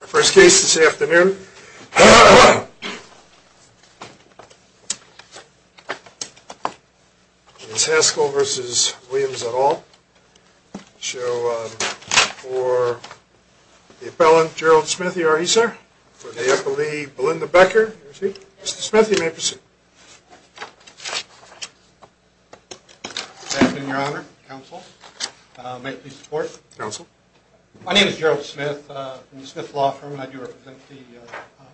The first case this afternoon is Hascall v. Williams et al. We'll show for the appellant, Gerald Smith. Here are he, sir. For the appellee, Belinda Becker. Mr. Smith, you may proceed. Good afternoon, Your Honor, Counsel. May I please report? Counsel. My name is Gerald Smith from the Smith Law Firm, and I do represent the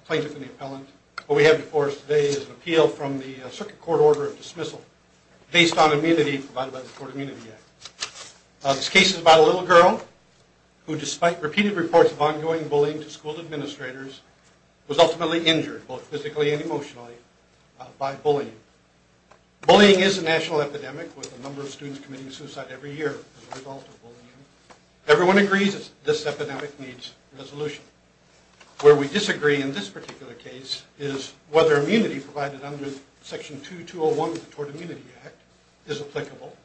plaintiff and the appellant. What we have before us today is an appeal from the Circuit Court Order of Dismissal, based on immunity provided by the Court Immunity Act. This case is about a little girl who, despite repeated reports of ongoing bullying to school administrators, was ultimately injured, both physically and emotionally, by bullying. Bullying is a national epidemic, with a number of students committing suicide every year as a result of bullying. Everyone agrees that this epidemic needs resolution. Where we disagree in this particular case is whether immunity provided under Section 2201 of the Court Immunity Act is applicable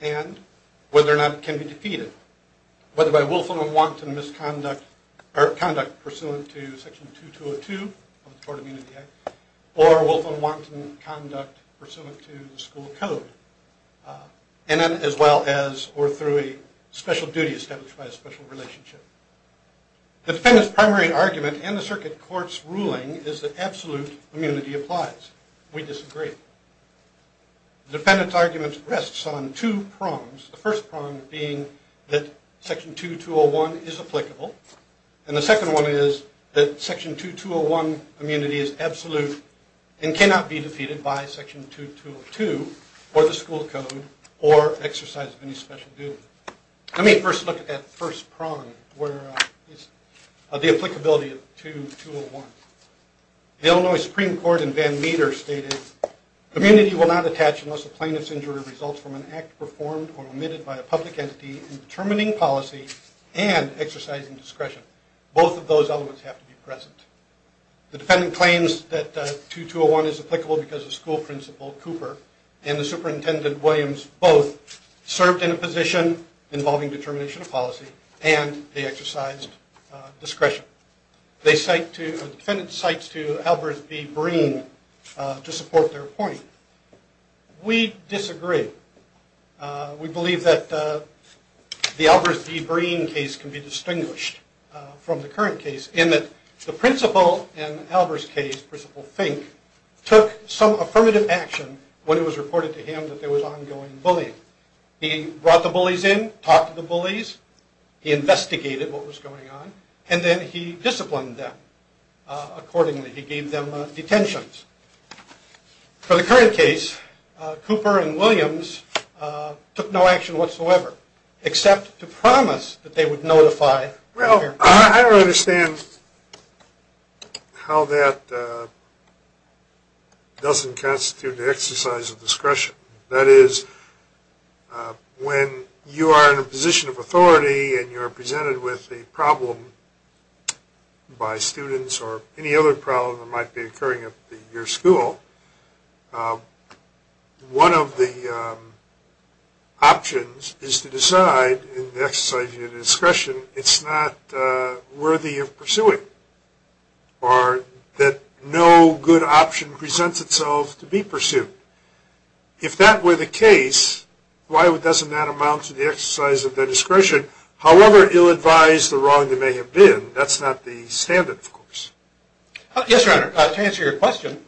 and whether or not it can be defeated, whether by willful and wanton conduct pursuant to Section 2202 of the Court Immunity Act or willful and wanton conduct pursuant to the school code. And then as well as or through a special duty established by a special relationship. The defendant's primary argument and the Circuit Court's ruling is that absolute immunity applies. We disagree. The defendant's argument rests on two prongs. The first prong being that Section 2201 is applicable, and the second one is that Section 2201 immunity is absolute and cannot be defeated by Section 2202 or the school code or exercise of any special duty. Let me first look at that first prong, the applicability of 2201. The Illinois Supreme Court in Van Meter stated, Immunity will not attach unless a plaintiff's injury results from an act performed or omitted by a public entity in determining policy and exercising discretion. Both of those elements have to be present. The defendant claims that 2201 is applicable because the school principal, Cooper, and the superintendent, Williams, both served in a position involving determination of policy and they exercised discretion. The defendant cites to Albert B. Breen to support their point. We disagree. We believe that the Albert B. Breen case can be distinguished from the current case in that the principal in Albert's case, Principal Fink, took some affirmative action when it was reported to him that there was ongoing bullying. He brought the bullies in, talked to the bullies, he investigated what was going on, and then he disciplined them accordingly. He gave them detentions. For the current case, Cooper and Williams took no action whatsoever, except to promise that they would notify their parents. I don't understand how that doesn't constitute the exercise of discretion. That is, when you are in a position of authority and you're presented with a problem by students or any other problem that might be occurring at your school, one of the options is to decide, in the exercise of your discretion, it's not worthy of pursuing, or that no good option presents itself to be pursued. If that were the case, why doesn't that amount to the exercise of their discretion, however ill-advised or wrong they may have been? That's not the standard, of course. Yes, Your Honor, to answer your question,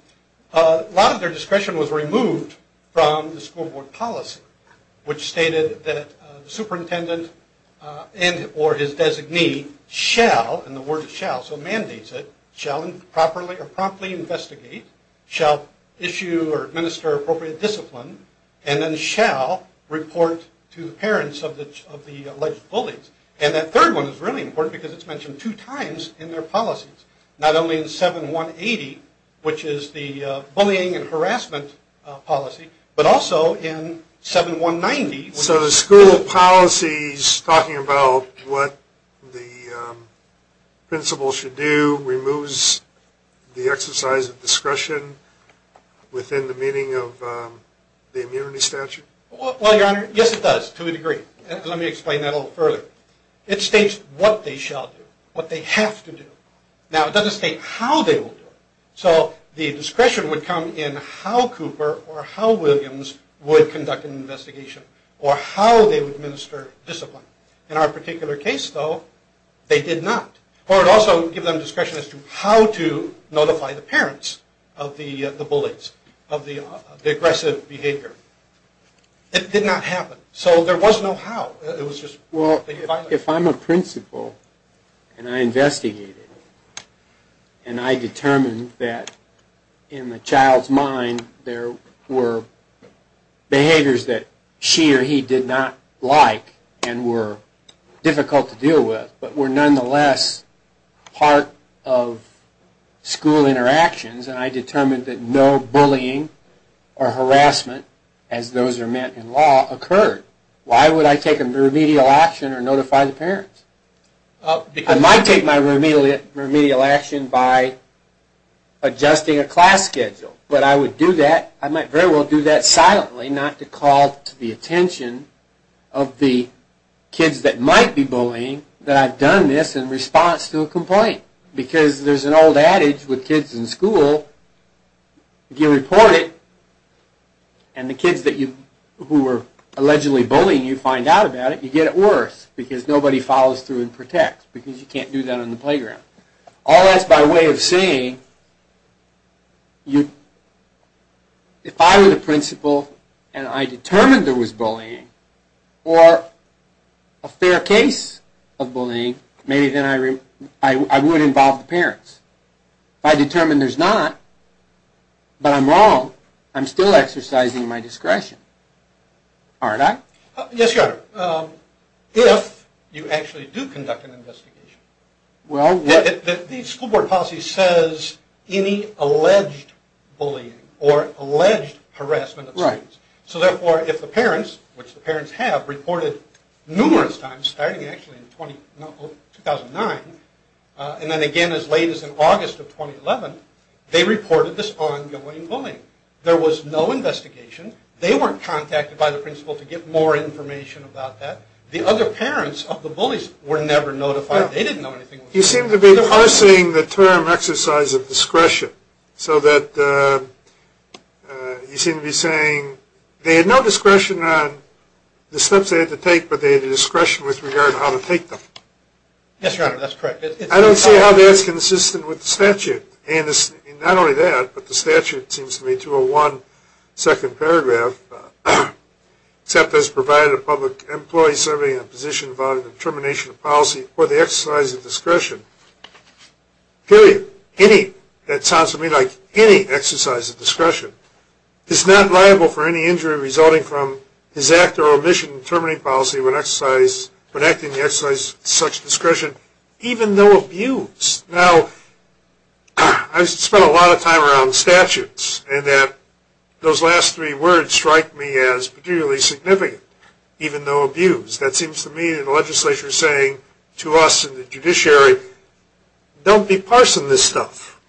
a lot of their discretion was removed from the school board policy, which stated that the superintendent and or his designee shall, in the word shall, so mandates it, shall properly or promptly investigate, shall issue or administer appropriate discipline, and then shall report to the parents of the alleged bullies. And that third one is really important because it's mentioned two times in their policies, not only in 7-180, which is the bullying and harassment policy, but also in 7-190. So the school policy's talking about what the principal should do removes the exercise of discretion within the meaning of the immunity statute? Well, Your Honor, yes it does, to a degree. Let me explain that a little further. It states what they shall do, what they have to do. Now, it doesn't state how they will do it. So the discretion would come in how Cooper or how Williams would conduct an investigation or how they would administer discipline. In our particular case, though, they did not. Or it also would give them discretion as to how to notify the parents of the bullies, of the aggressive behavior. It did not happen. So there was no how. Well, if I'm a principal and I investigate it and I determine that in the child's mind there were behaviors that she or he did not like and were difficult to deal with but were nonetheless part of school interactions and I determined that no bullying or harassment, as those are meant in law, occurred, why would I take a remedial action or notify the parents? I might take my remedial action by adjusting a class schedule. But I would do that, I might very well do that silently, not to call to the attention of the kids that might be bullying that I've done this in response to a complaint. Because there's an old adage with kids in school, if you report it and the kids who were allegedly bullying you find out about it, you get it worse because nobody follows through and protects because you can't do that on the playground. All that's by way of saying if I were the principal and I determined there was bullying or a fair case of bullying, maybe then I would involve the parents. If I determine there's not, but I'm wrong, I'm still exercising my discretion, aren't I? Yes, Your Honor. If you actually do conduct an investigation, the school board policy says any alleged bullying or alleged harassment of students. So therefore, if the parents, which the parents have, reported numerous times, starting actually in 2009 and then again as late as in August of 2011, they reported this ongoing bullying. There was no investigation. They weren't contacted by the principal to get more information about that. The other parents of the bullies were never notified. They didn't know anything. You seem to be parsing the term exercise of discretion. So that you seem to be saying they had no discretion on the steps they had to take, but they had discretion with regard to how to take them. Yes, Your Honor. That's correct. I don't see how that's consistent with the statute. And not only that, but the statute seems to me to a one-second paragraph, except as provided a public employee serving a position of determination of policy or the exercise of discretion, period, any, that sounds to me like any exercise of discretion, is not liable for any injury resulting from his act or omission in determining policy when acting to exercise such discretion, even though abused. Now, I've spent a lot of time around statutes, and that those last three words strike me as particularly significant, even though abused. That seems to me to the legislature saying to us in the judiciary, don't be parsing this stuff.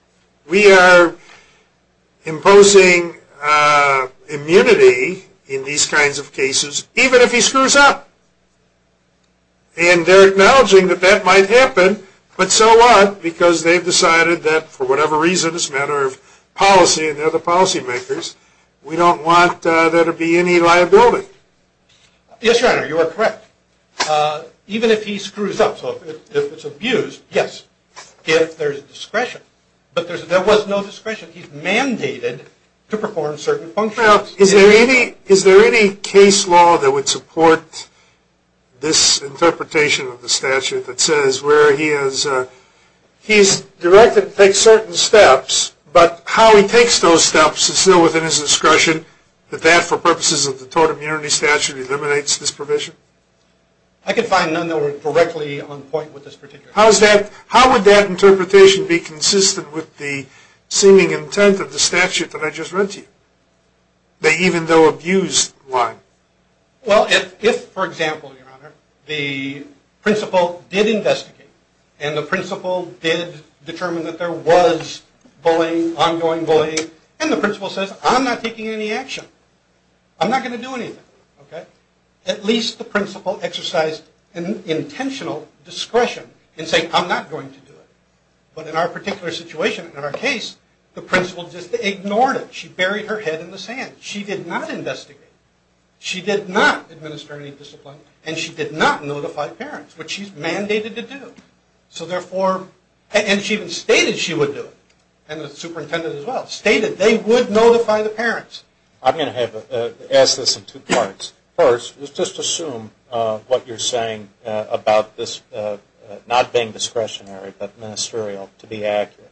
We are imposing immunity in these kinds of cases, even if he screws up. And they're acknowledging that that might happen, but so what, because they've decided that for whatever reason, it's a matter of policy, and they're the policy makers, we don't want there to be any liability. Yes, Your Honor, you are correct. Even if he screws up, so if it's abused, yes, if there's discretion. But there was no discretion. He's mandated to perform certain functions. Now, is there any case law that would support this interpretation of the statute that says where he is directed to take certain steps, but how he takes those steps is still within his discretion, that that, for purposes of the tort immunity statute, eliminates this provision? I could find none that were directly on point with this particular case. How would that interpretation be consistent with the seeming intent of the statute that I just read to you, the even though abused line? Well, if, for example, Your Honor, the principal did investigate, and the principal did determine that there was bullying, ongoing bullying, and the principal says, I'm not taking any action. I'm not going to do anything. At least the principal exercised an intentional discretion in saying, I'm not going to do it. But in our particular situation, in our case, the principal just ignored it. She buried her head in the sand. She did not investigate. She did not administer any discipline, and she did not notify parents, which she's mandated to do. And she even stated she would do it, and the superintendent as well, stated they would notify the parents. I'm going to ask this in two parts. First, let's just assume what you're saying about this not being discretionary but ministerial, to be accurate.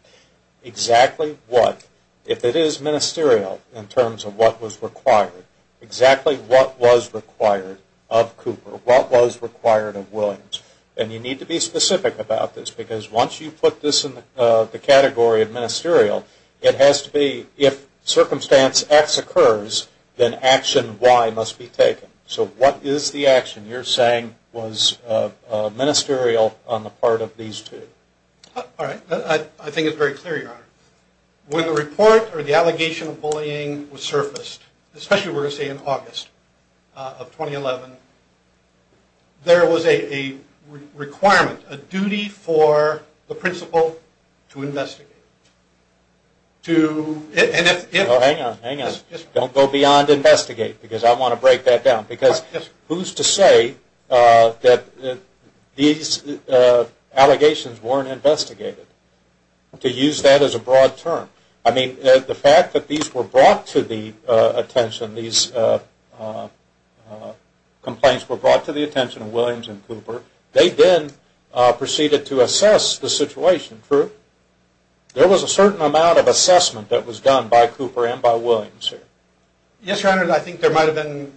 Exactly what, if it is ministerial in terms of what was required, exactly what was required of Cooper, what was required of Williams? And you need to be specific about this, because once you put this in the category of ministerial, it has to be if circumstance X occurs, then action Y must be taken. So what is the action you're saying was ministerial on the part of these two? All right. I think it's very clear, Your Honor. When the report or the allegation of bullying was surfaced, especially we're going to say in August of 2011, there was a requirement, a duty for the principal to investigate. Hang on, hang on. Don't go beyond investigate, because I want to break that down. Because who's to say that these allegations weren't investigated? To use that as a broad term. I mean, the fact that these were brought to the attention, these complaints were brought to the attention of Williams and Cooper, they then proceeded to assess the situation. True? There was a certain amount of assessment that was done by Cooper and by Williams here. Yes, Your Honor, and I think there might have been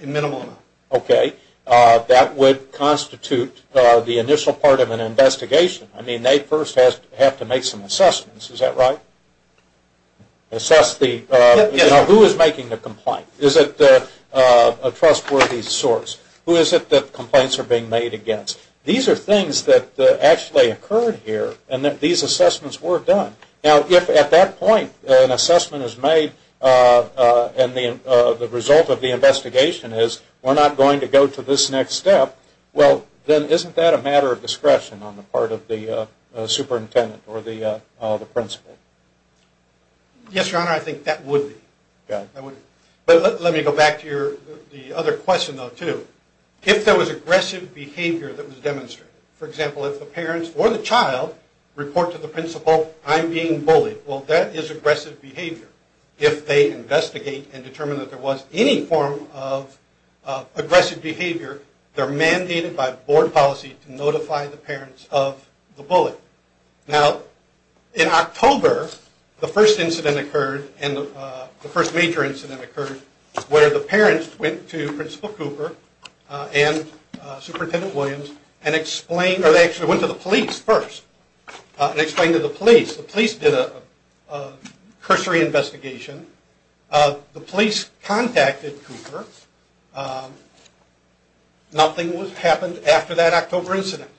a minimal amount. Okay. That would constitute the initial part of an investigation. I mean, they first have to make some assessments. Is that right? Assess the, you know, who is making the complaint? Is it a trustworthy source? Who is it that complaints are being made against? These are things that actually occurred here and that these assessments were done. Now, if at that point an assessment is made and the result of the investigation is we're not going to go to this next step, well, then isn't that a matter of discretion on the part of the superintendent or the principal? Yes, Your Honor, I think that would be. Okay. But let me go back to the other question, though, too. If there was aggressive behavior that was demonstrated, for example, if the parents or the child report to the principal, I'm being bullied, well, that is aggressive behavior. If they investigate and determine that there was any form of aggressive behavior, they're mandated by board policy to notify the parents of the bully. Now, in October, the first incident occurred and the first major incident occurred where the parents went to Principal Cooper and Superintendent Williams and explained, or they actually went to the police first and explained to the police. The police did a cursory investigation. The police contacted Cooper. Nothing happened after that October incident.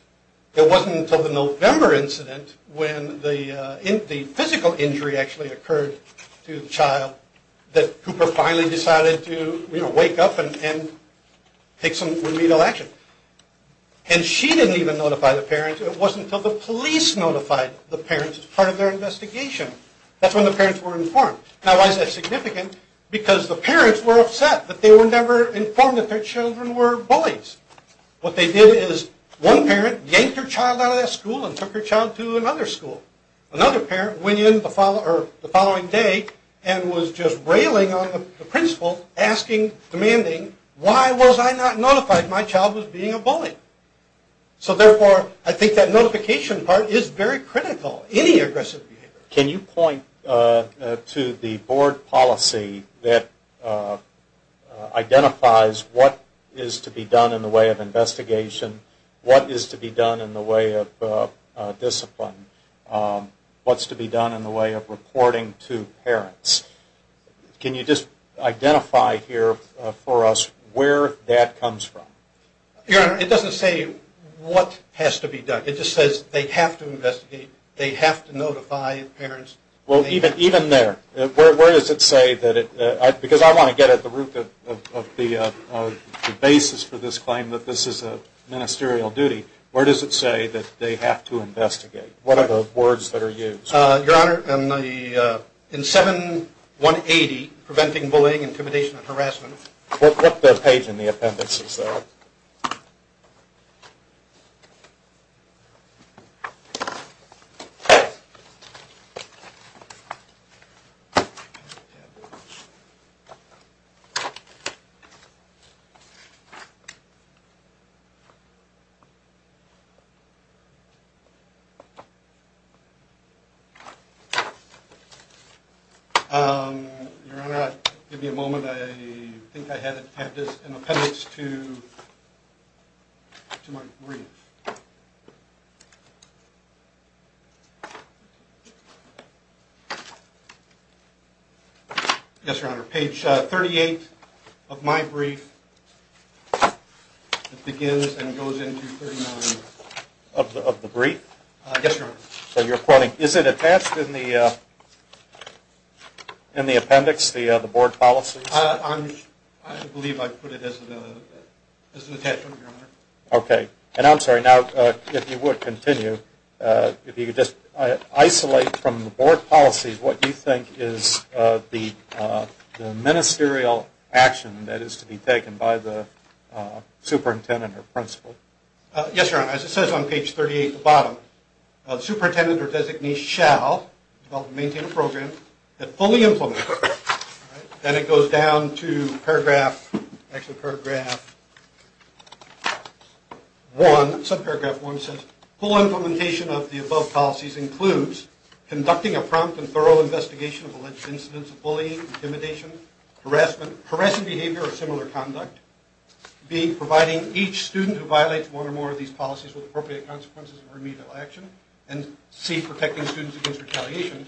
It wasn't until the November incident when the physical injury actually occurred to the child that Cooper finally decided to wake up and take some remedial action. And she didn't even notify the parents. It wasn't until the police notified the parents as part of their investigation. That's when the parents were informed. Now, why is that significant? Because the parents were upset that they were never informed that their children were bullies. What they did is one parent yanked her child out of that school and took her child to another school. Another parent went in the following day and was just railing on the principal, asking, demanding, why was I not notified my child was being a bully? So therefore, I think that notification part is very critical in any aggressive behavior. Can you point to the board policy that identifies what is to be done in the way of investigation, what is to be done in the way of discipline, what's to be done in the way of reporting to parents? Can you just identify here for us where that comes from? Your Honor, it doesn't say what has to be done. It just says they have to investigate. They have to notify parents. Well, even there, where does it say that it – because I want to get at the root of the basis for this claim that this is a ministerial duty. Where does it say that they have to investigate? What are the words that are used? Your Honor, in 7-180, Preventing Bullying, Intimidation, and Harassment. What page in the appendix is that? Your Honor, give me a moment. I think I have an appendix to my brief. Yes, Your Honor. Page 38 of my brief. It begins and goes into 39 of the brief. Yes, Your Honor. Is it attached in the appendix, the board policies? I believe I put it as an attachment, Your Honor. Okay. And I'm sorry, now if you would continue. If you could just isolate from the board policies what you think is the ministerial action that is to be taken by the superintendent or principal. Yes, Your Honor. As it says on page 38 at the bottom, superintendent or designee shall develop and maintain a program that fully implements. Then it goes down to paragraph, actually paragraph 1, subparagraph 1 says, full implementation of the above policies includes conducting a prompt and thorough investigation of alleged incidents of bullying, intimidation, harassment, harassing behavior, or similar conduct. B, providing each student who violates one or more of these policies with appropriate consequences of remedial action. And C, protecting students against retaliation.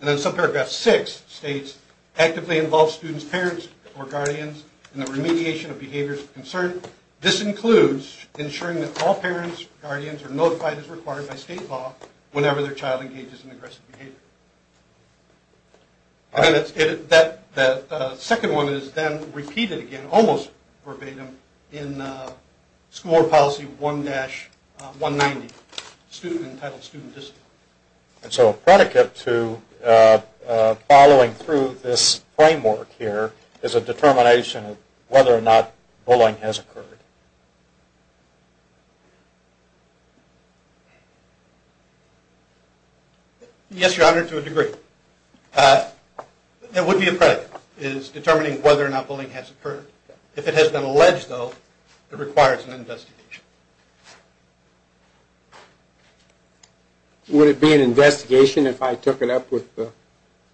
And then subparagraph 6 states, actively involve students' parents or guardians in the remediation of behaviors of concern. This includes ensuring that all parents or guardians are notified as required by state law whenever their child engages in aggressive behavior. And that second one is then repeated again, almost verbatim, in school board policy 1-190 entitled student discipline. And so a predicate to following through this framework here is a determination of whether or not bullying has occurred. Yes, your honor, to a degree. It would be a predicate, is determining whether or not bullying has occurred. If it has been alleged though, it requires an investigation. Would it be an investigation if I took it up with the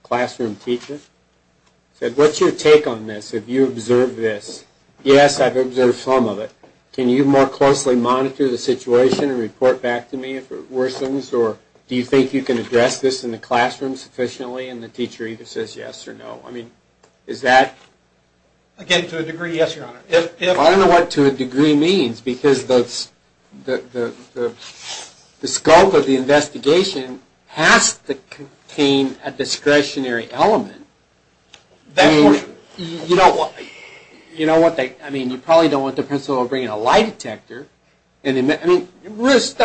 classroom teacher? I said, what's your take on this, have you observed this? Yes, I've observed some of it. Can you more closely monitor the situation and report back to me if it worsens? Or do you think you can address this in the classroom sufficiently and the teacher either says yes or no? I mean, is that? Again, to a degree, yes, your honor. I don't know what to a degree means, because the scope of the investigation has to contain a discretionary element. You know what, I mean, you probably don't want the principal bringing a lie detector. I mean, obviously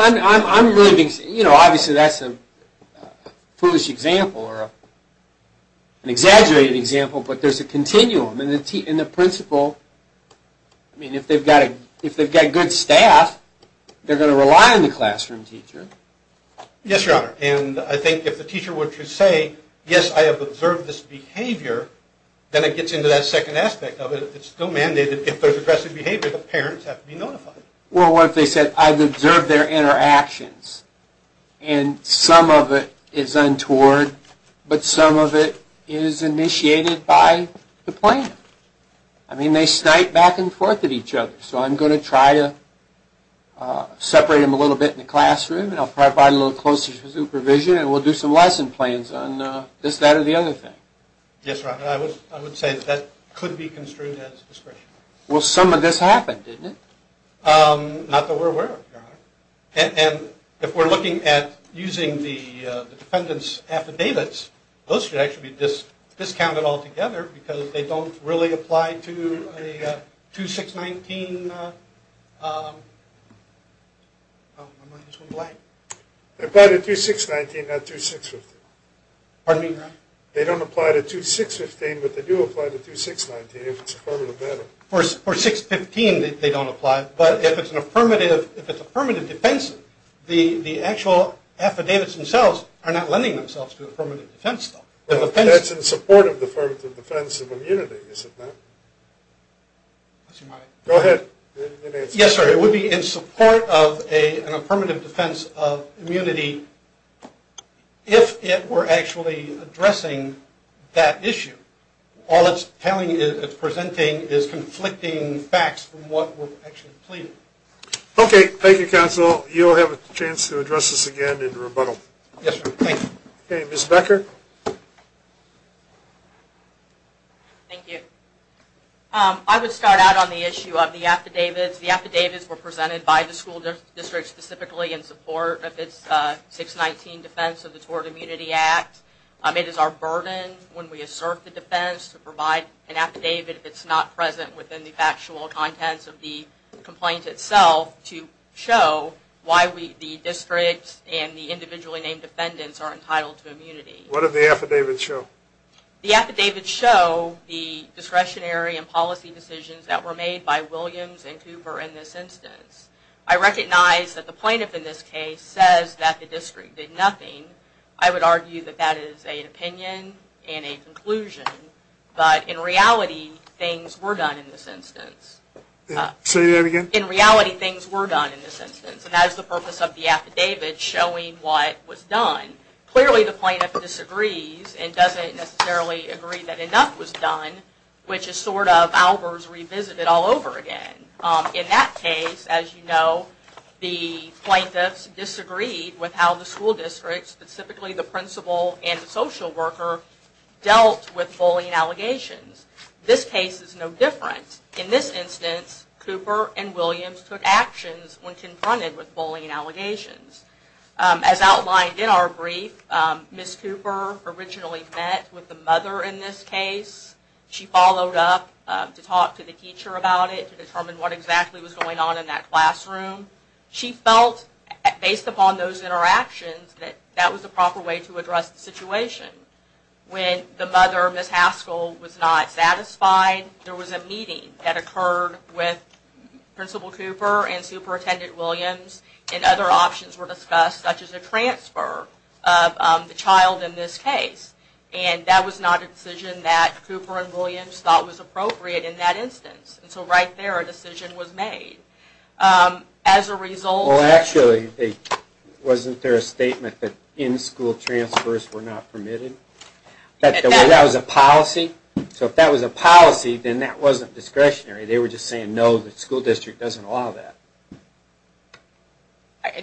that's a foolish example or an exaggerated example, but there's a continuum. And the principal, I mean, if they've got good staff, they're going to rely on the classroom teacher. Yes, your honor, and I think if the teacher were to say, yes, I have observed this behavior, then it gets into that second aspect of it, it's still mandated. If there's aggressive behavior, the parents have to be notified. Well, what if they said, I've observed their interactions, and some of it is untoward, but some of it is initiated by the plan. I mean, they snipe back and forth at each other, so I'm going to try to separate them a little bit in the classroom, and I'll provide a little closer supervision, and we'll do some lesson plans on this, that, or the other thing. Yes, your honor, I would say that could be construed as discretionary. Well, some of this happened, didn't it? Not that we're aware of, your honor. And if we're looking at using the defendant's affidavits, those should actually be discounted altogether, because they don't really apply to a 2-6-19. They apply to 2-6-19, not 2-6-15. Pardon me, your honor? They don't apply to 2-6-15, but they do apply to 2-6-19 if it's an affirmative battle. For 6-15, they don't apply, but if it's an affirmative defense, the actual affidavits themselves are not lending themselves to affirmative defense, though. That's in support of the affirmative defense of immunity, is it not? Go ahead. Yes, sir. It would be in support of an affirmative defense of immunity if it were actually addressing that issue. All it's presenting is conflicting facts from what we're actually pleading. Okay. Thank you, counsel. You'll have a chance to address this again in rebuttal. Yes, sir. Thank you. Okay, Ms. Becker? Thank you. I would start out on the issue of the affidavits. The affidavits were presented by the school district specifically in support of its 6-19 defense of the Tort Immunity Act. It is our burden when we assert the defense to provide an affidavit if it's not present within the factual contents of the complaint itself to show why the district and the individually named defendants are entitled to immunity. What do the affidavits show? The affidavits show the discretionary and policy decisions that were made by Williams and Cooper in this instance. I recognize that the plaintiff in this case says that the district did nothing. I would argue that that is an opinion and a conclusion. But in reality, things were done in this instance. Say that again? In reality, things were done in this instance. And that is the purpose of the affidavit, showing what was done. Clearly, the plaintiff disagrees and doesn't necessarily agree that enough was done, which is sort of Albers revisited all over again. In that case, as you know, the plaintiffs disagreed with how the school district, specifically the principal and the social worker, dealt with bullying allegations. This case is no different. In this instance, Cooper and Williams took actions when confronted with bullying allegations. As outlined in our brief, Ms. Cooper originally met with the mother in this case. She followed up to talk to the teacher about it to determine what exactly was going on in that classroom. She felt, based upon those interactions, that that was the proper way to address the situation. When the mother, Ms. Haskell, was not satisfied, there was a meeting that occurred with Principal Cooper and Superintendent Williams, and other options were discussed, such as a transfer of the child in this case. And that was not a decision that Cooper and Williams thought was appropriate in that instance. And so right there, a decision was made. As a result... Wasn't there a statement that in-school transfers were not permitted? That was a policy? So if that was a policy, then that wasn't discretionary. They were just saying, no, the school district doesn't allow that.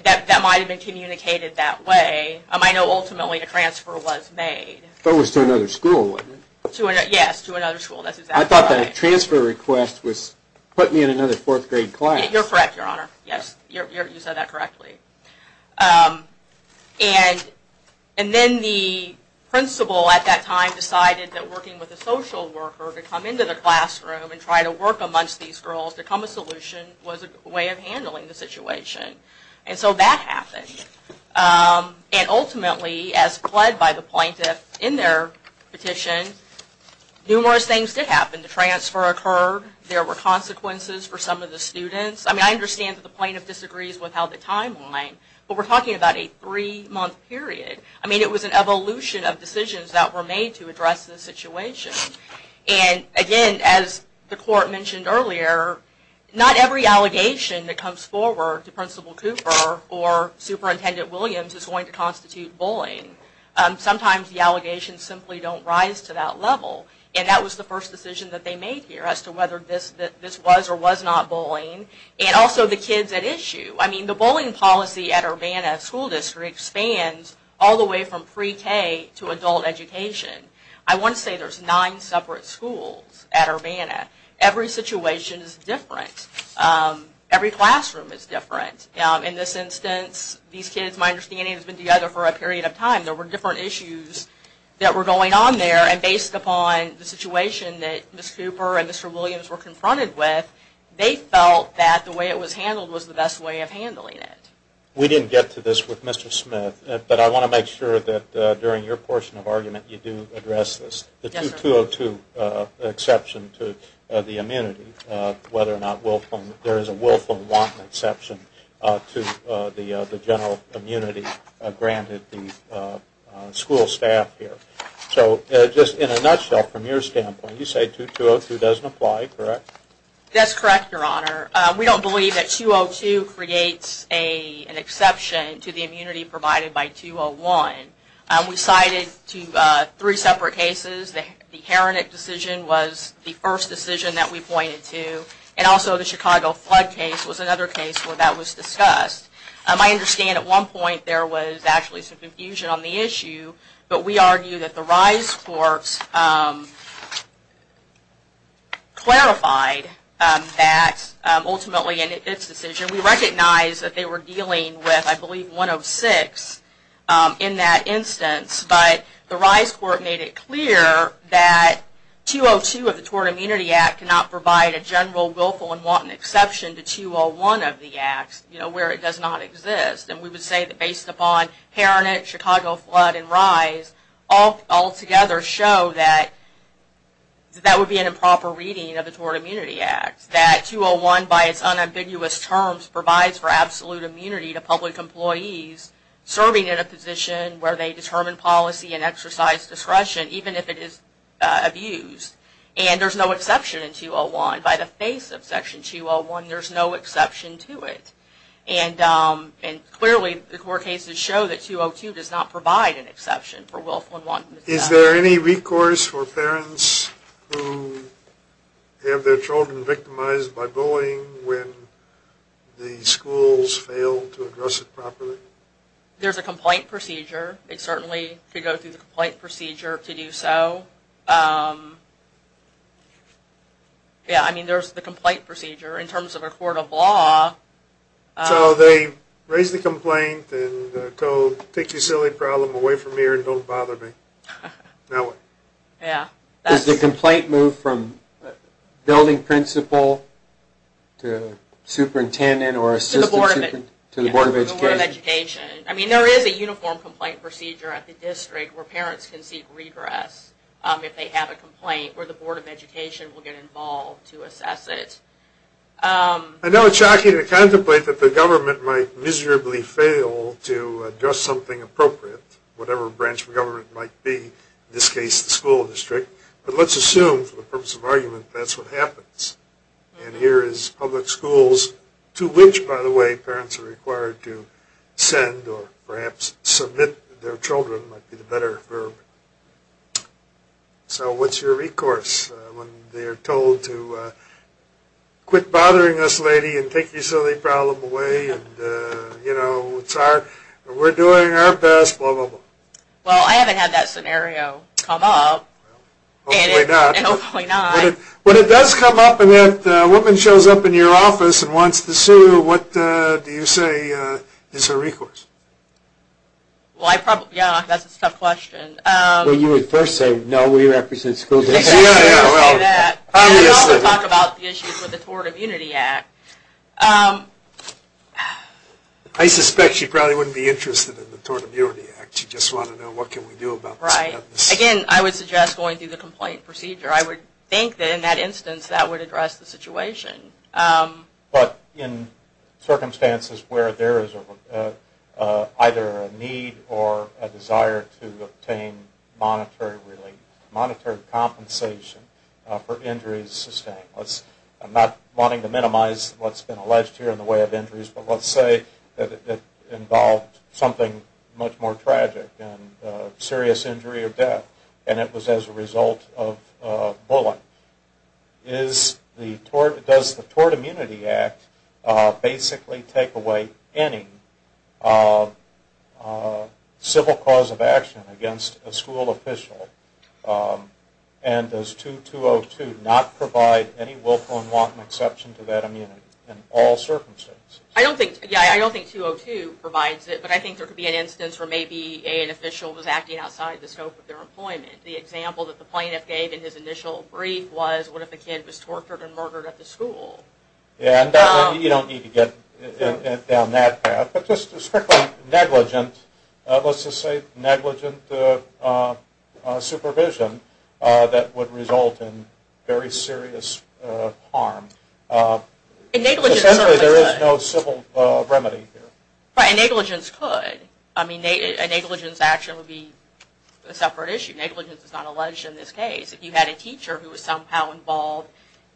That might have been communicated that way. I know, ultimately, a transfer was made. But it was to another school, wasn't it? Yes, to another school. I thought the transfer request was, put me in another fourth grade class. You're correct, Your Honor. Yes, you said that correctly. And then the principal at that time decided that working with a social worker to come into the classroom and try to work amongst these girls to come up with a solution was a way of handling the situation. And so that happened. And ultimately, as pled by the plaintiff in their petition, numerous things did happen. The transfer occurred. There were consequences for some of the students. I mean, I understand that the plaintiff disagrees with how the timeline, but we're talking about a three-month period. I mean, it was an evolution of decisions that were made to address the situation. And again, as the court mentioned earlier, not every allegation that comes forward to Principal Cooper or Superintendent Williams is going to constitute bullying. Sometimes the allegations simply don't rise to that level. And that was the first decision that they made here as to whether this was or was not bullying. And also the kids at issue. I mean, the bullying policy at Urbana School District spans all the way from pre-K to adult education. I want to say there's nine separate schools at Urbana. Every situation is different. Every classroom is different. In this instance, these kids, my understanding, have been together for a period of time. There were different issues that were going on there. And based upon the situation that Ms. Cooper and Mr. Williams were confronted with, they felt that the way it was handled was the best way of handling it. We didn't get to this with Mr. Smith, but I want to make sure that during your portion of argument you do address this, the 202 exception to the immunity, whether or not there is a willful or wanton exception to the general immunity granted the school staff here. So just in a nutshell, from your standpoint, you say 202 doesn't apply, correct? That's correct, Your Honor. We don't believe that 202 creates an exception to the immunity provided by 201. We cited three separate cases. The Heronet decision was the first decision that we pointed to, and also the Chicago flood case was another case where that was discussed. I understand at one point there was actually some confusion on the issue, but we argue that the rise courts clarified that ultimately in its decision. We recognize that they were dealing with, I believe, 106 in that instance, but the rise court made it clear that 202 of the Tort Immunity Act cannot provide a general willful and wanton exception to 201 of the acts where it does not exist. And we would say that based upon Heronet, Chicago flood, and rise, all together show that that would be an improper reading of the Tort Immunity Act. That 201, by its unambiguous terms, provides for absolute immunity to public employees serving in a position where they determine policy and exercise discretion, even if it is abused. And there's no exception in 201. By the face of Section 201, there's no exception to it. And clearly the court cases show that 202 does not provide an exception for willful and wanton exception. Is there any recourse for parents who have their children victimized by bullying when the schools fail to address it properly? There's a complaint procedure. They certainly could go through the complaint procedure to do so. Yeah, I mean, there's the complaint procedure. In terms of a court of law... So they raise the complaint and the code, take your silly problem away from here and don't bother me. Now what? Yeah. Does the complaint move from building principal to superintendent or assistant superintendent to the Board of Education? To the Board of Education. I mean, there is a uniform complaint procedure at the district where parents can seek regress if they have a complaint where the Board of Education will get involved to assess it. I know it's shocking to contemplate that the government might miserably fail to address something appropriate, whatever branch of government it might be, in this case the school district. But let's assume, for the purpose of argument, that's what happens. And here is public schools to which, by the way, parents are required to send or perhaps submit their children, might be the better verb. So what's your recourse when they're told to quit bothering this lady and take your silly problem away and, you know, we're doing our best, blah, blah, blah. Well, I haven't had that scenario come up. Hopefully not. Hopefully not. When it does come up and that woman shows up in your office and wants to sue, what do you say is her recourse? Well, I probably, yeah, that's a tough question. Well, you would first say, no, we represent school districts. Yeah, yeah, well, obviously. We also talk about the issues with the Tort Immunity Act. I suspect she probably wouldn't be interested in the Tort Immunity Act. She'd just want to know what can we do about this. Right. Again, I would suggest going through the complaint procedure. I would think that in that instance that would address the situation. But in circumstances where there is either a need or a desire to obtain monetary relief, monetary compensation for injuries sustained, I'm not wanting to minimize what's been alleged here in the way of injuries, but let's say that it involved something much more tragic, a serious injury or death, and it was as a result of bullying. Does the Tort Immunity Act basically take away any civil cause of action against a school official? And does 2202 not provide any willful and wanton exception to that immunity in all circumstances? Yeah, I don't think 202 provides it, but I think there could be an instance where maybe an official was acting outside the scope of their employment. The example that the plaintiff gave in his initial brief was, what if the kid was tortured and murdered at the school? Yeah, and you don't need to get down that path. But just strictly negligent, let's just say negligent supervision, that would result in very serious harm. Essentially there is no civil remedy here. Right, and negligence could. I mean, a negligence action would be a separate issue. Negligence is not alleged in this case. If you had a teacher who was somehow involved,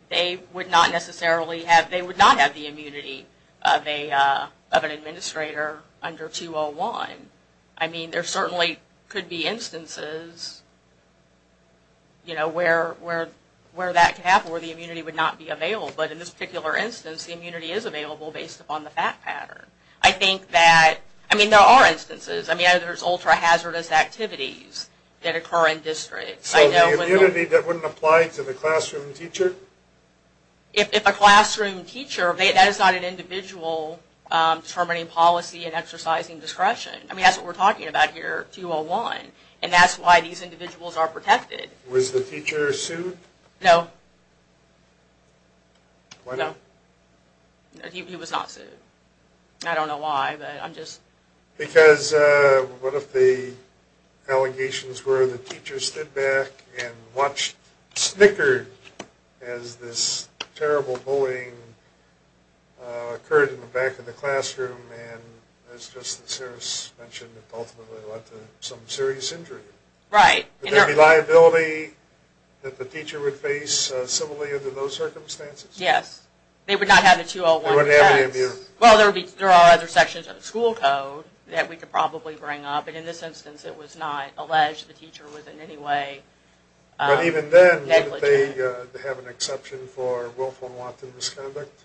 they would not necessarily have, they would not have the immunity of an administrator under 201. I mean, there certainly could be instances, you know, where that could happen, where the immunity would not be available. But in this particular instance, the immunity is available based upon the fact pattern. I think that, I mean, there are instances. I mean, there's ultra-hazardous activities that occur in districts. So the immunity, that wouldn't apply to the classroom teacher? If a classroom teacher, that is not an individual determining policy and exercising discretion. I mean, that's what we're talking about here, 201. And that's why these individuals are protected. Was the teacher sued? No. No. He was not sued. I don't know why, but I'm just. Because what if the allegations were the teacher stood back and watched snickered as this terrible bullying occurred in the back of the classroom, and as just the service mentioned, it ultimately led to some serious injury. Right. Would there be liability that the teacher would face similarly under those circumstances? Yes. They would not have a 201. They wouldn't have any immunity. Well, there are other sections of the school code that we could probably bring up. But in this instance, it was not alleged the teacher was in any way negligent. But even then, would they have an exception for willful and wanton misconduct?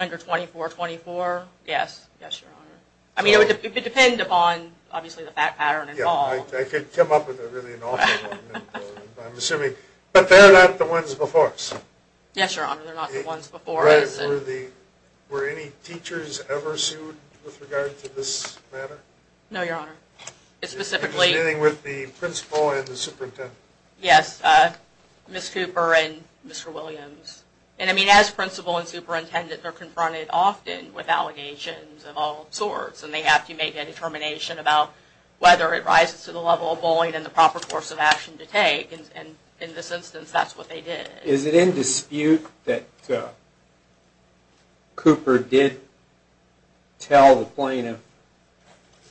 Under 2424? Yes. Yes, Your Honor. I mean, it would depend upon, obviously, the fact pattern involved. I could come up with a really awful one. But they're not the ones before us. Yes, Your Honor. They're not the ones before us. Right. Were any teachers ever sued with regard to this matter? No, Your Honor. It was dealing with the principal and the superintendent. Yes, Ms. Cooper and Mr. Williams. And, I mean, as principal and superintendent, they're confronted often with allegations of all sorts. And they have to make a determination about whether it rises to the level of bullying and the proper course of action to take. And in this instance, that's what they did. Is it in dispute that Cooper did tell the plaintiff,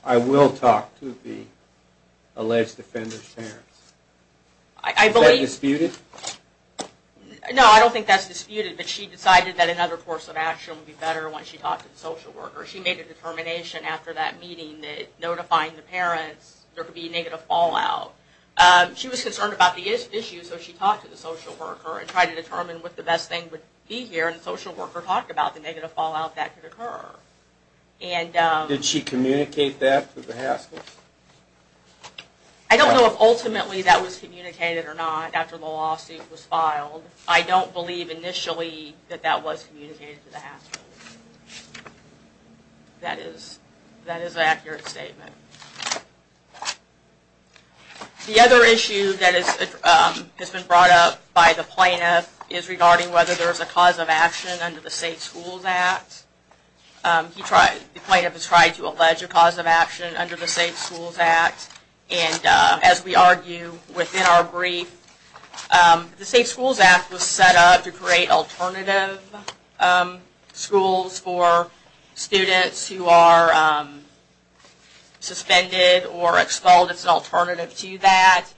I will talk to the alleged offender's parents? Is that disputed? No, I don't think that's disputed. But she decided that another course of action would be better once she talked to the social worker. She made a determination after that meeting that notifying the parents, there could be negative fallout. She was concerned about the issue, so she talked to the social worker and tried to determine what the best thing would be here. And the social worker talked about the negative fallout that could occur. Did she communicate that to the Haskell? I don't know if ultimately that was communicated or not after the lawsuit was filed. I don't believe initially that that was communicated to the Haskell. That is an accurate statement. The other issue that has been brought up by the plaintiff is regarding whether there is a cause of action under the Safe Schools Act. The plaintiff has tried to allege a cause of action under the Safe Schools Act. And as we argue within our brief, the Safe Schools Act was set up to create alternative schools for students who are suspended or expelled. It's an alternative to that.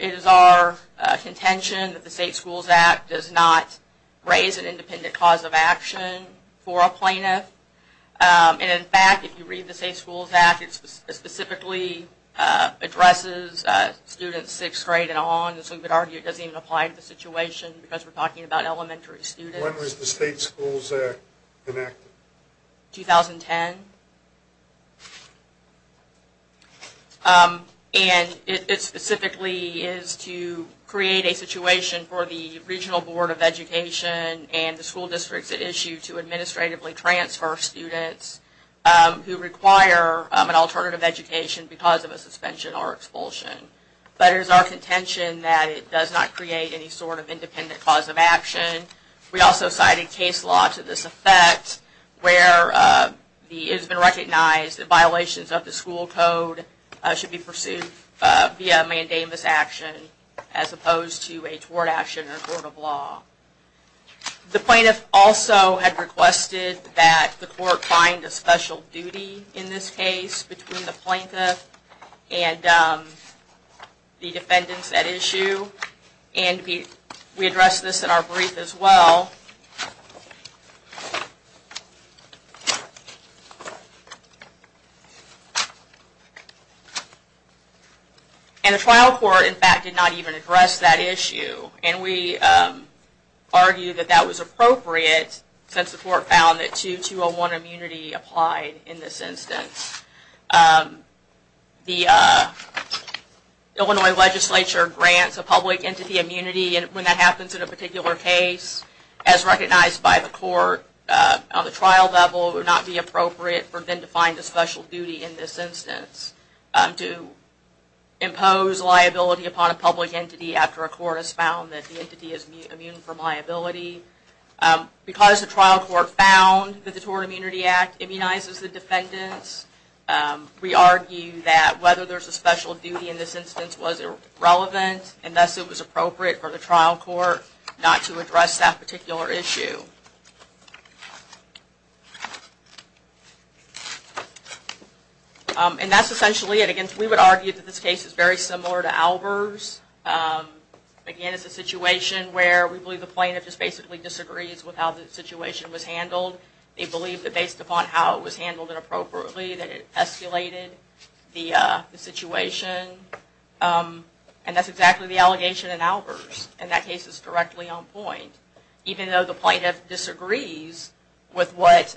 It is our contention that the Safe Schools Act does not raise an independent cause of action for a plaintiff. And in fact, if you read the Safe Schools Act, it specifically addresses students sixth grade and on. As we would argue, it doesn't even apply to the situation because we're talking about elementary students. When was the State Schools Act enacted? 2010. And it specifically is to create a situation for the Regional Board of Education and the school districts at issue to administratively transfer students who require an alternative education because of a suspension or expulsion. But it is our contention that it does not create any sort of independent cause of action. We also cited case law to this effect where it has been recognized that violations of the school code should be pursued via mandamus action as opposed to a tort action or a court of law. The plaintiff also had requested that the court find a special duty in this case between the plaintiff and the defendants at issue. And we addressed this in our brief as well. And the trial court, in fact, did not even address that issue. And we argue that that was appropriate since the court found that 2201 immunity applied in this instance. The Illinois legislature grants a public entity immunity and when that happens in a particular case, as recognized by the court on the trial level, it would not be appropriate for them to find a special duty in this instance to impose liability upon a public entity after a court has found that the entity is immune from liability. Because the trial court found that the Tort Immunity Act immunizes the defendants, we argue that whether there is a special duty in this instance was irrelevant and thus it was appropriate for the trial court not to address that particular issue. And that's essentially it. We would argue that this case is very similar to Albers. Again, it's a situation where we believe the plaintiff just basically disagrees with how the situation was handled. They believe that based upon how it was handled and appropriately that it escalated the situation. And that's exactly the allegation in Albers. And that case is directly on point. Even though the plaintiff disagrees with what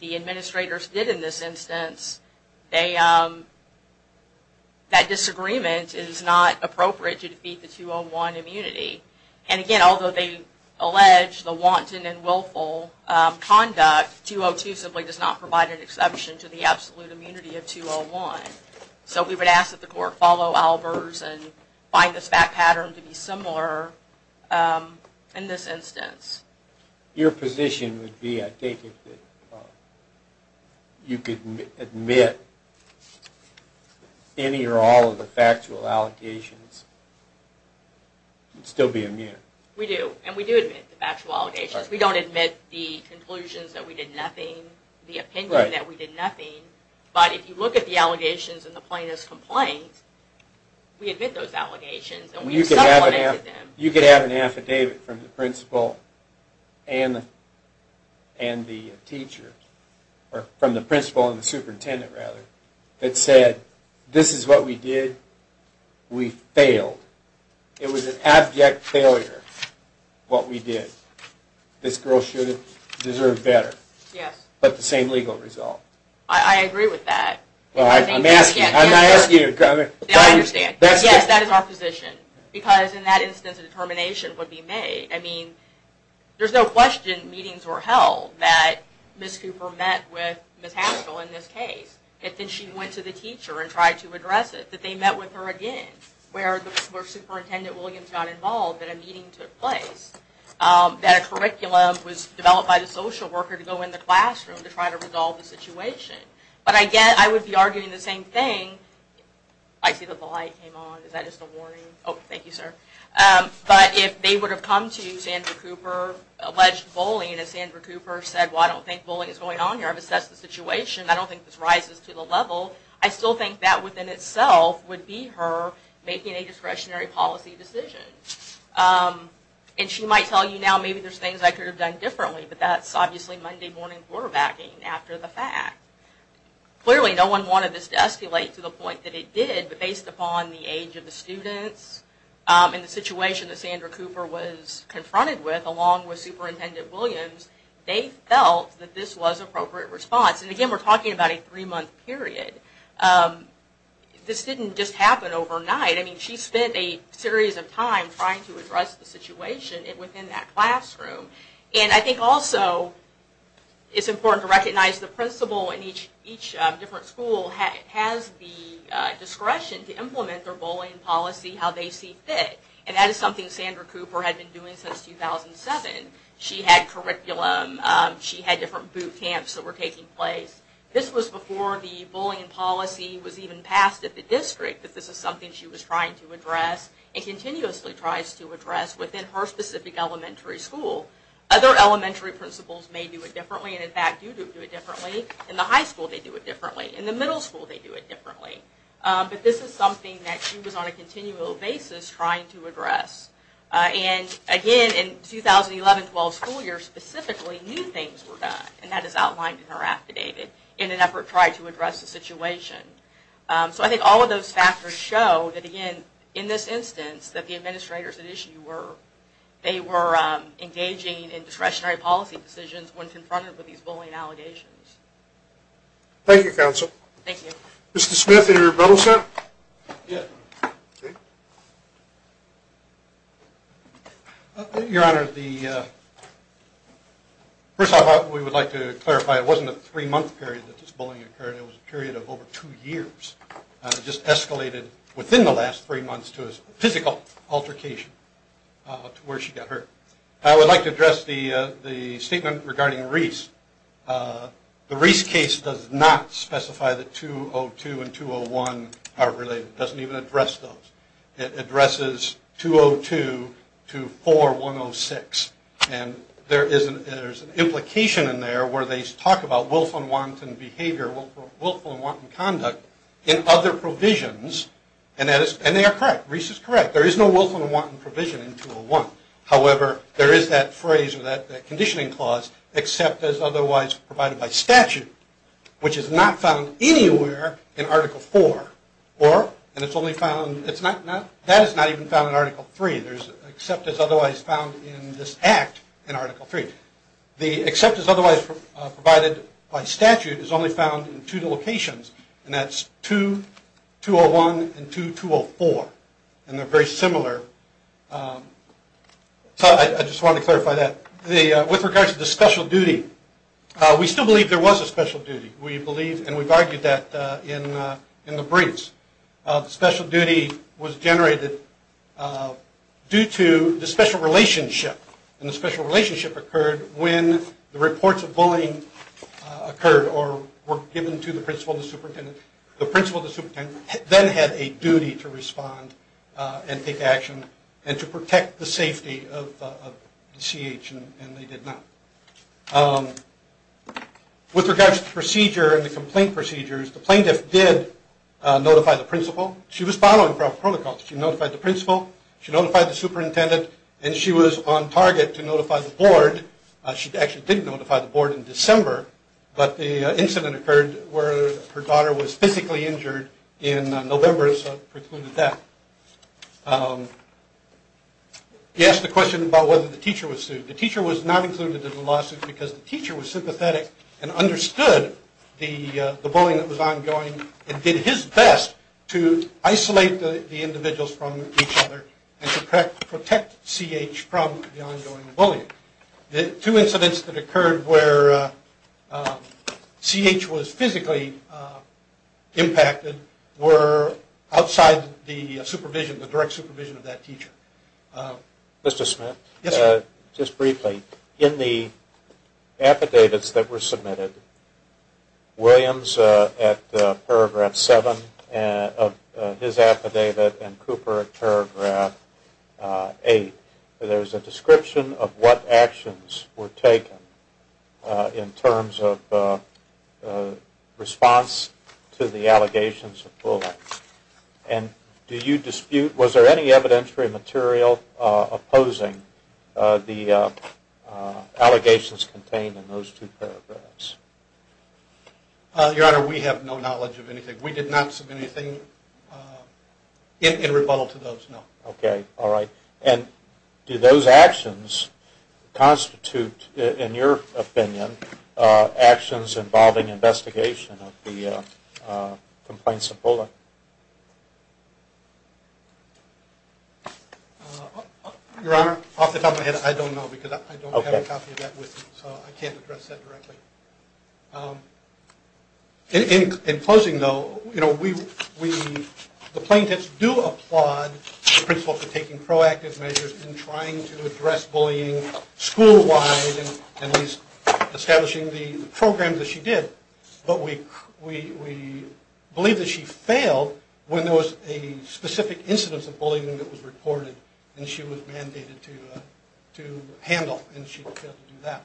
the administrators did in this instance, that disagreement is not appropriate to defeat the 201 immunity. And again, although they allege the wanton and willful conduct, 202 simply does not provide an exception to the absolute immunity of 201. So we would ask that the court follow Albers and find the fact pattern to be similar. In this instance. Your position would be, I take it, you could admit any or all of the factual allegations and still be immune. We do. And we do admit the factual allegations. We don't admit the conclusions that we did nothing, the opinion that we did nothing. But if you look at the allegations in the plaintiff's complaint, we admit those allegations and we have supplemented them. You could have an affidavit from the principal and the teacher, or from the principal and the superintendent rather, that said, this is what we did, we failed. It was an abject failure, what we did. This girl should have deserved better. Yes. But the same legal result. I agree with that. I'm asking you. I understand. Yes, that is our position. Because in that instance a determination would be made. I mean, there's no question meetings were held that Ms. Cooper met with Ms. Haskell in this case. And then she went to the teacher and tried to address it. That they met with her again. Where Superintendent Williams got involved and a meeting took place. That a curriculum was developed by the social worker to go in the classroom to try to resolve the situation. But again, I would be arguing the same thing. I see that the light came on. Is that just a warning? Oh, thank you, sir. But if they would have come to Sandra Cooper, alleged bullying, and Sandra Cooper said, well, I don't think bullying is going on here. I've assessed the situation. I don't think this rises to the level. I still think that within itself would be her making a discretionary policy decision. And she might tell you now, maybe there's things I could have done differently. But that's obviously Monday morning quarterbacking after the fact. Clearly, no one wanted this to escalate to the point that it did. But based upon the age of the students and the situation that Sandra Cooper was confronted with, along with Superintendent Williams, they felt that this was appropriate response. And again, we're talking about a three-month period. This didn't just happen overnight. I mean, she spent a series of time trying to address the situation within that classroom. And I think also it's important to recognize the principal in each different school has the discretion to implement their bullying policy how they see fit. And that is something Sandra Cooper had been doing since 2007. She had curriculum. She had different boot camps that were taking place. This was before the bullying policy was even passed at the district, that this is something she was trying to address and continuously tries to address within her specific elementary school. Other elementary principals may do it differently, and in fact do do it differently. In the high school, they do it differently. In the middle school, they do it differently. But this is something that she was on a continual basis trying to address. And again, in 2011-12 school year, specifically new things were done. And that is outlined in her affidavit in an effort to try to address the situation. So I think all of those factors show that, again, in this instance, that the administrators at issue were engaging in discretionary policy decisions when confronted with these bullying allegations. Thank you, Counsel. Thank you. Mr. Smith, any rebuttals yet? Your Honor, first off, we would like to clarify, it wasn't a three-month period that this bullying occurred. It was a period of over two years. It just escalated within the last three months to a physical altercation to where she got hurt. I would like to address the statement regarding Reese. The Reese case does not specify that 202 and 201 are related. It doesn't even address those. It addresses 202 to 4106. And there is an implication in there where they talk about willful and wanton behavior, willful and wanton conduct in other provisions, and they are correct. Reese is correct. There is no willful and wanton provision in 201. However, there is that phrase or that conditioning clause, except as otherwise provided by statute, which is not found anywhere in Article IV. And that is not even found in Article III, except as otherwise found in this act in Article III. The except as otherwise provided by statute is only found in two locations, and that's 2201 and 2204, and they're very similar. I just wanted to clarify that. With regards to the special duty, we still believe there was a special duty, and we've argued that in the briefs. The special duty was generated due to the special relationship, and the special relationship occurred when the reports of bullying occurred or were given to the principal and the superintendent. The principal and the superintendent then had a duty to respond and take action and to protect the safety of the CH, and they did not. With regards to the procedure and the complaint procedures, the plaintiff did notify the principal. She was following proper protocols. She notified the principal, she notified the superintendent, and she was on target to notify the board. She actually didn't notify the board in December, but the incident occurred where her daughter was physically injured in November, so it precluded that. You asked the question about whether the teacher was sued. The teacher was not included in the lawsuit because the teacher was sympathetic and understood the bullying that was ongoing and did his best to isolate the individuals from each other and to protect CH from the ongoing bullying. The two incidents that occurred where CH was physically impacted were outside the supervision, the direct supervision of that teacher. Mr. Smith? Yes, sir. Just briefly, in the affidavits that were submitted, Williams at paragraph 7 of his affidavit and Cooper at paragraph 8, there's a description of what actions were taken in terms of response to the allegations of bullying. And do you dispute, was there any evidentiary material opposing the allegations contained in those two paragraphs? Your Honor, we have no knowledge of anything. We did not submit anything in rebuttal to those, no. Okay, all right. And do those actions constitute, in your opinion, actions involving investigation of the complaints of bullying? Your Honor, off the top of my head, I don't know because I don't have a copy of that with me, so I can't address that directly. In closing, though, the plaintiffs do applaud the principle for taking proactive measures in trying to address bullying school-wide and at least establishing the programs that she did. But we believe that she failed when there was a specific incidence of bullying that was reported and she was mandated to handle, and she failed to do that.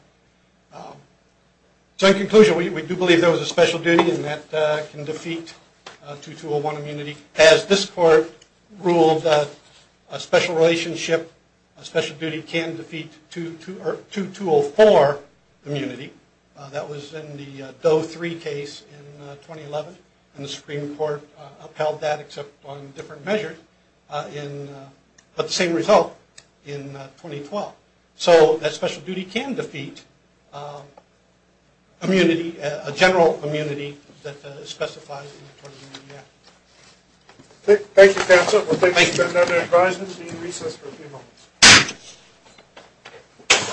So in conclusion, we do believe there was a special duty and that can defeat 2201 immunity. As this Court ruled, a special relationship, a special duty can defeat 2204 immunity. That was in the Doe 3 case in 2011, and the Supreme Court upheld that except on different measures, but the same result in 2012. So that special duty can defeat immunity, a general immunity that specifies 2204 immunity. Thank you, counsel. Thank you. We'll take another advisement and recess for a few moments.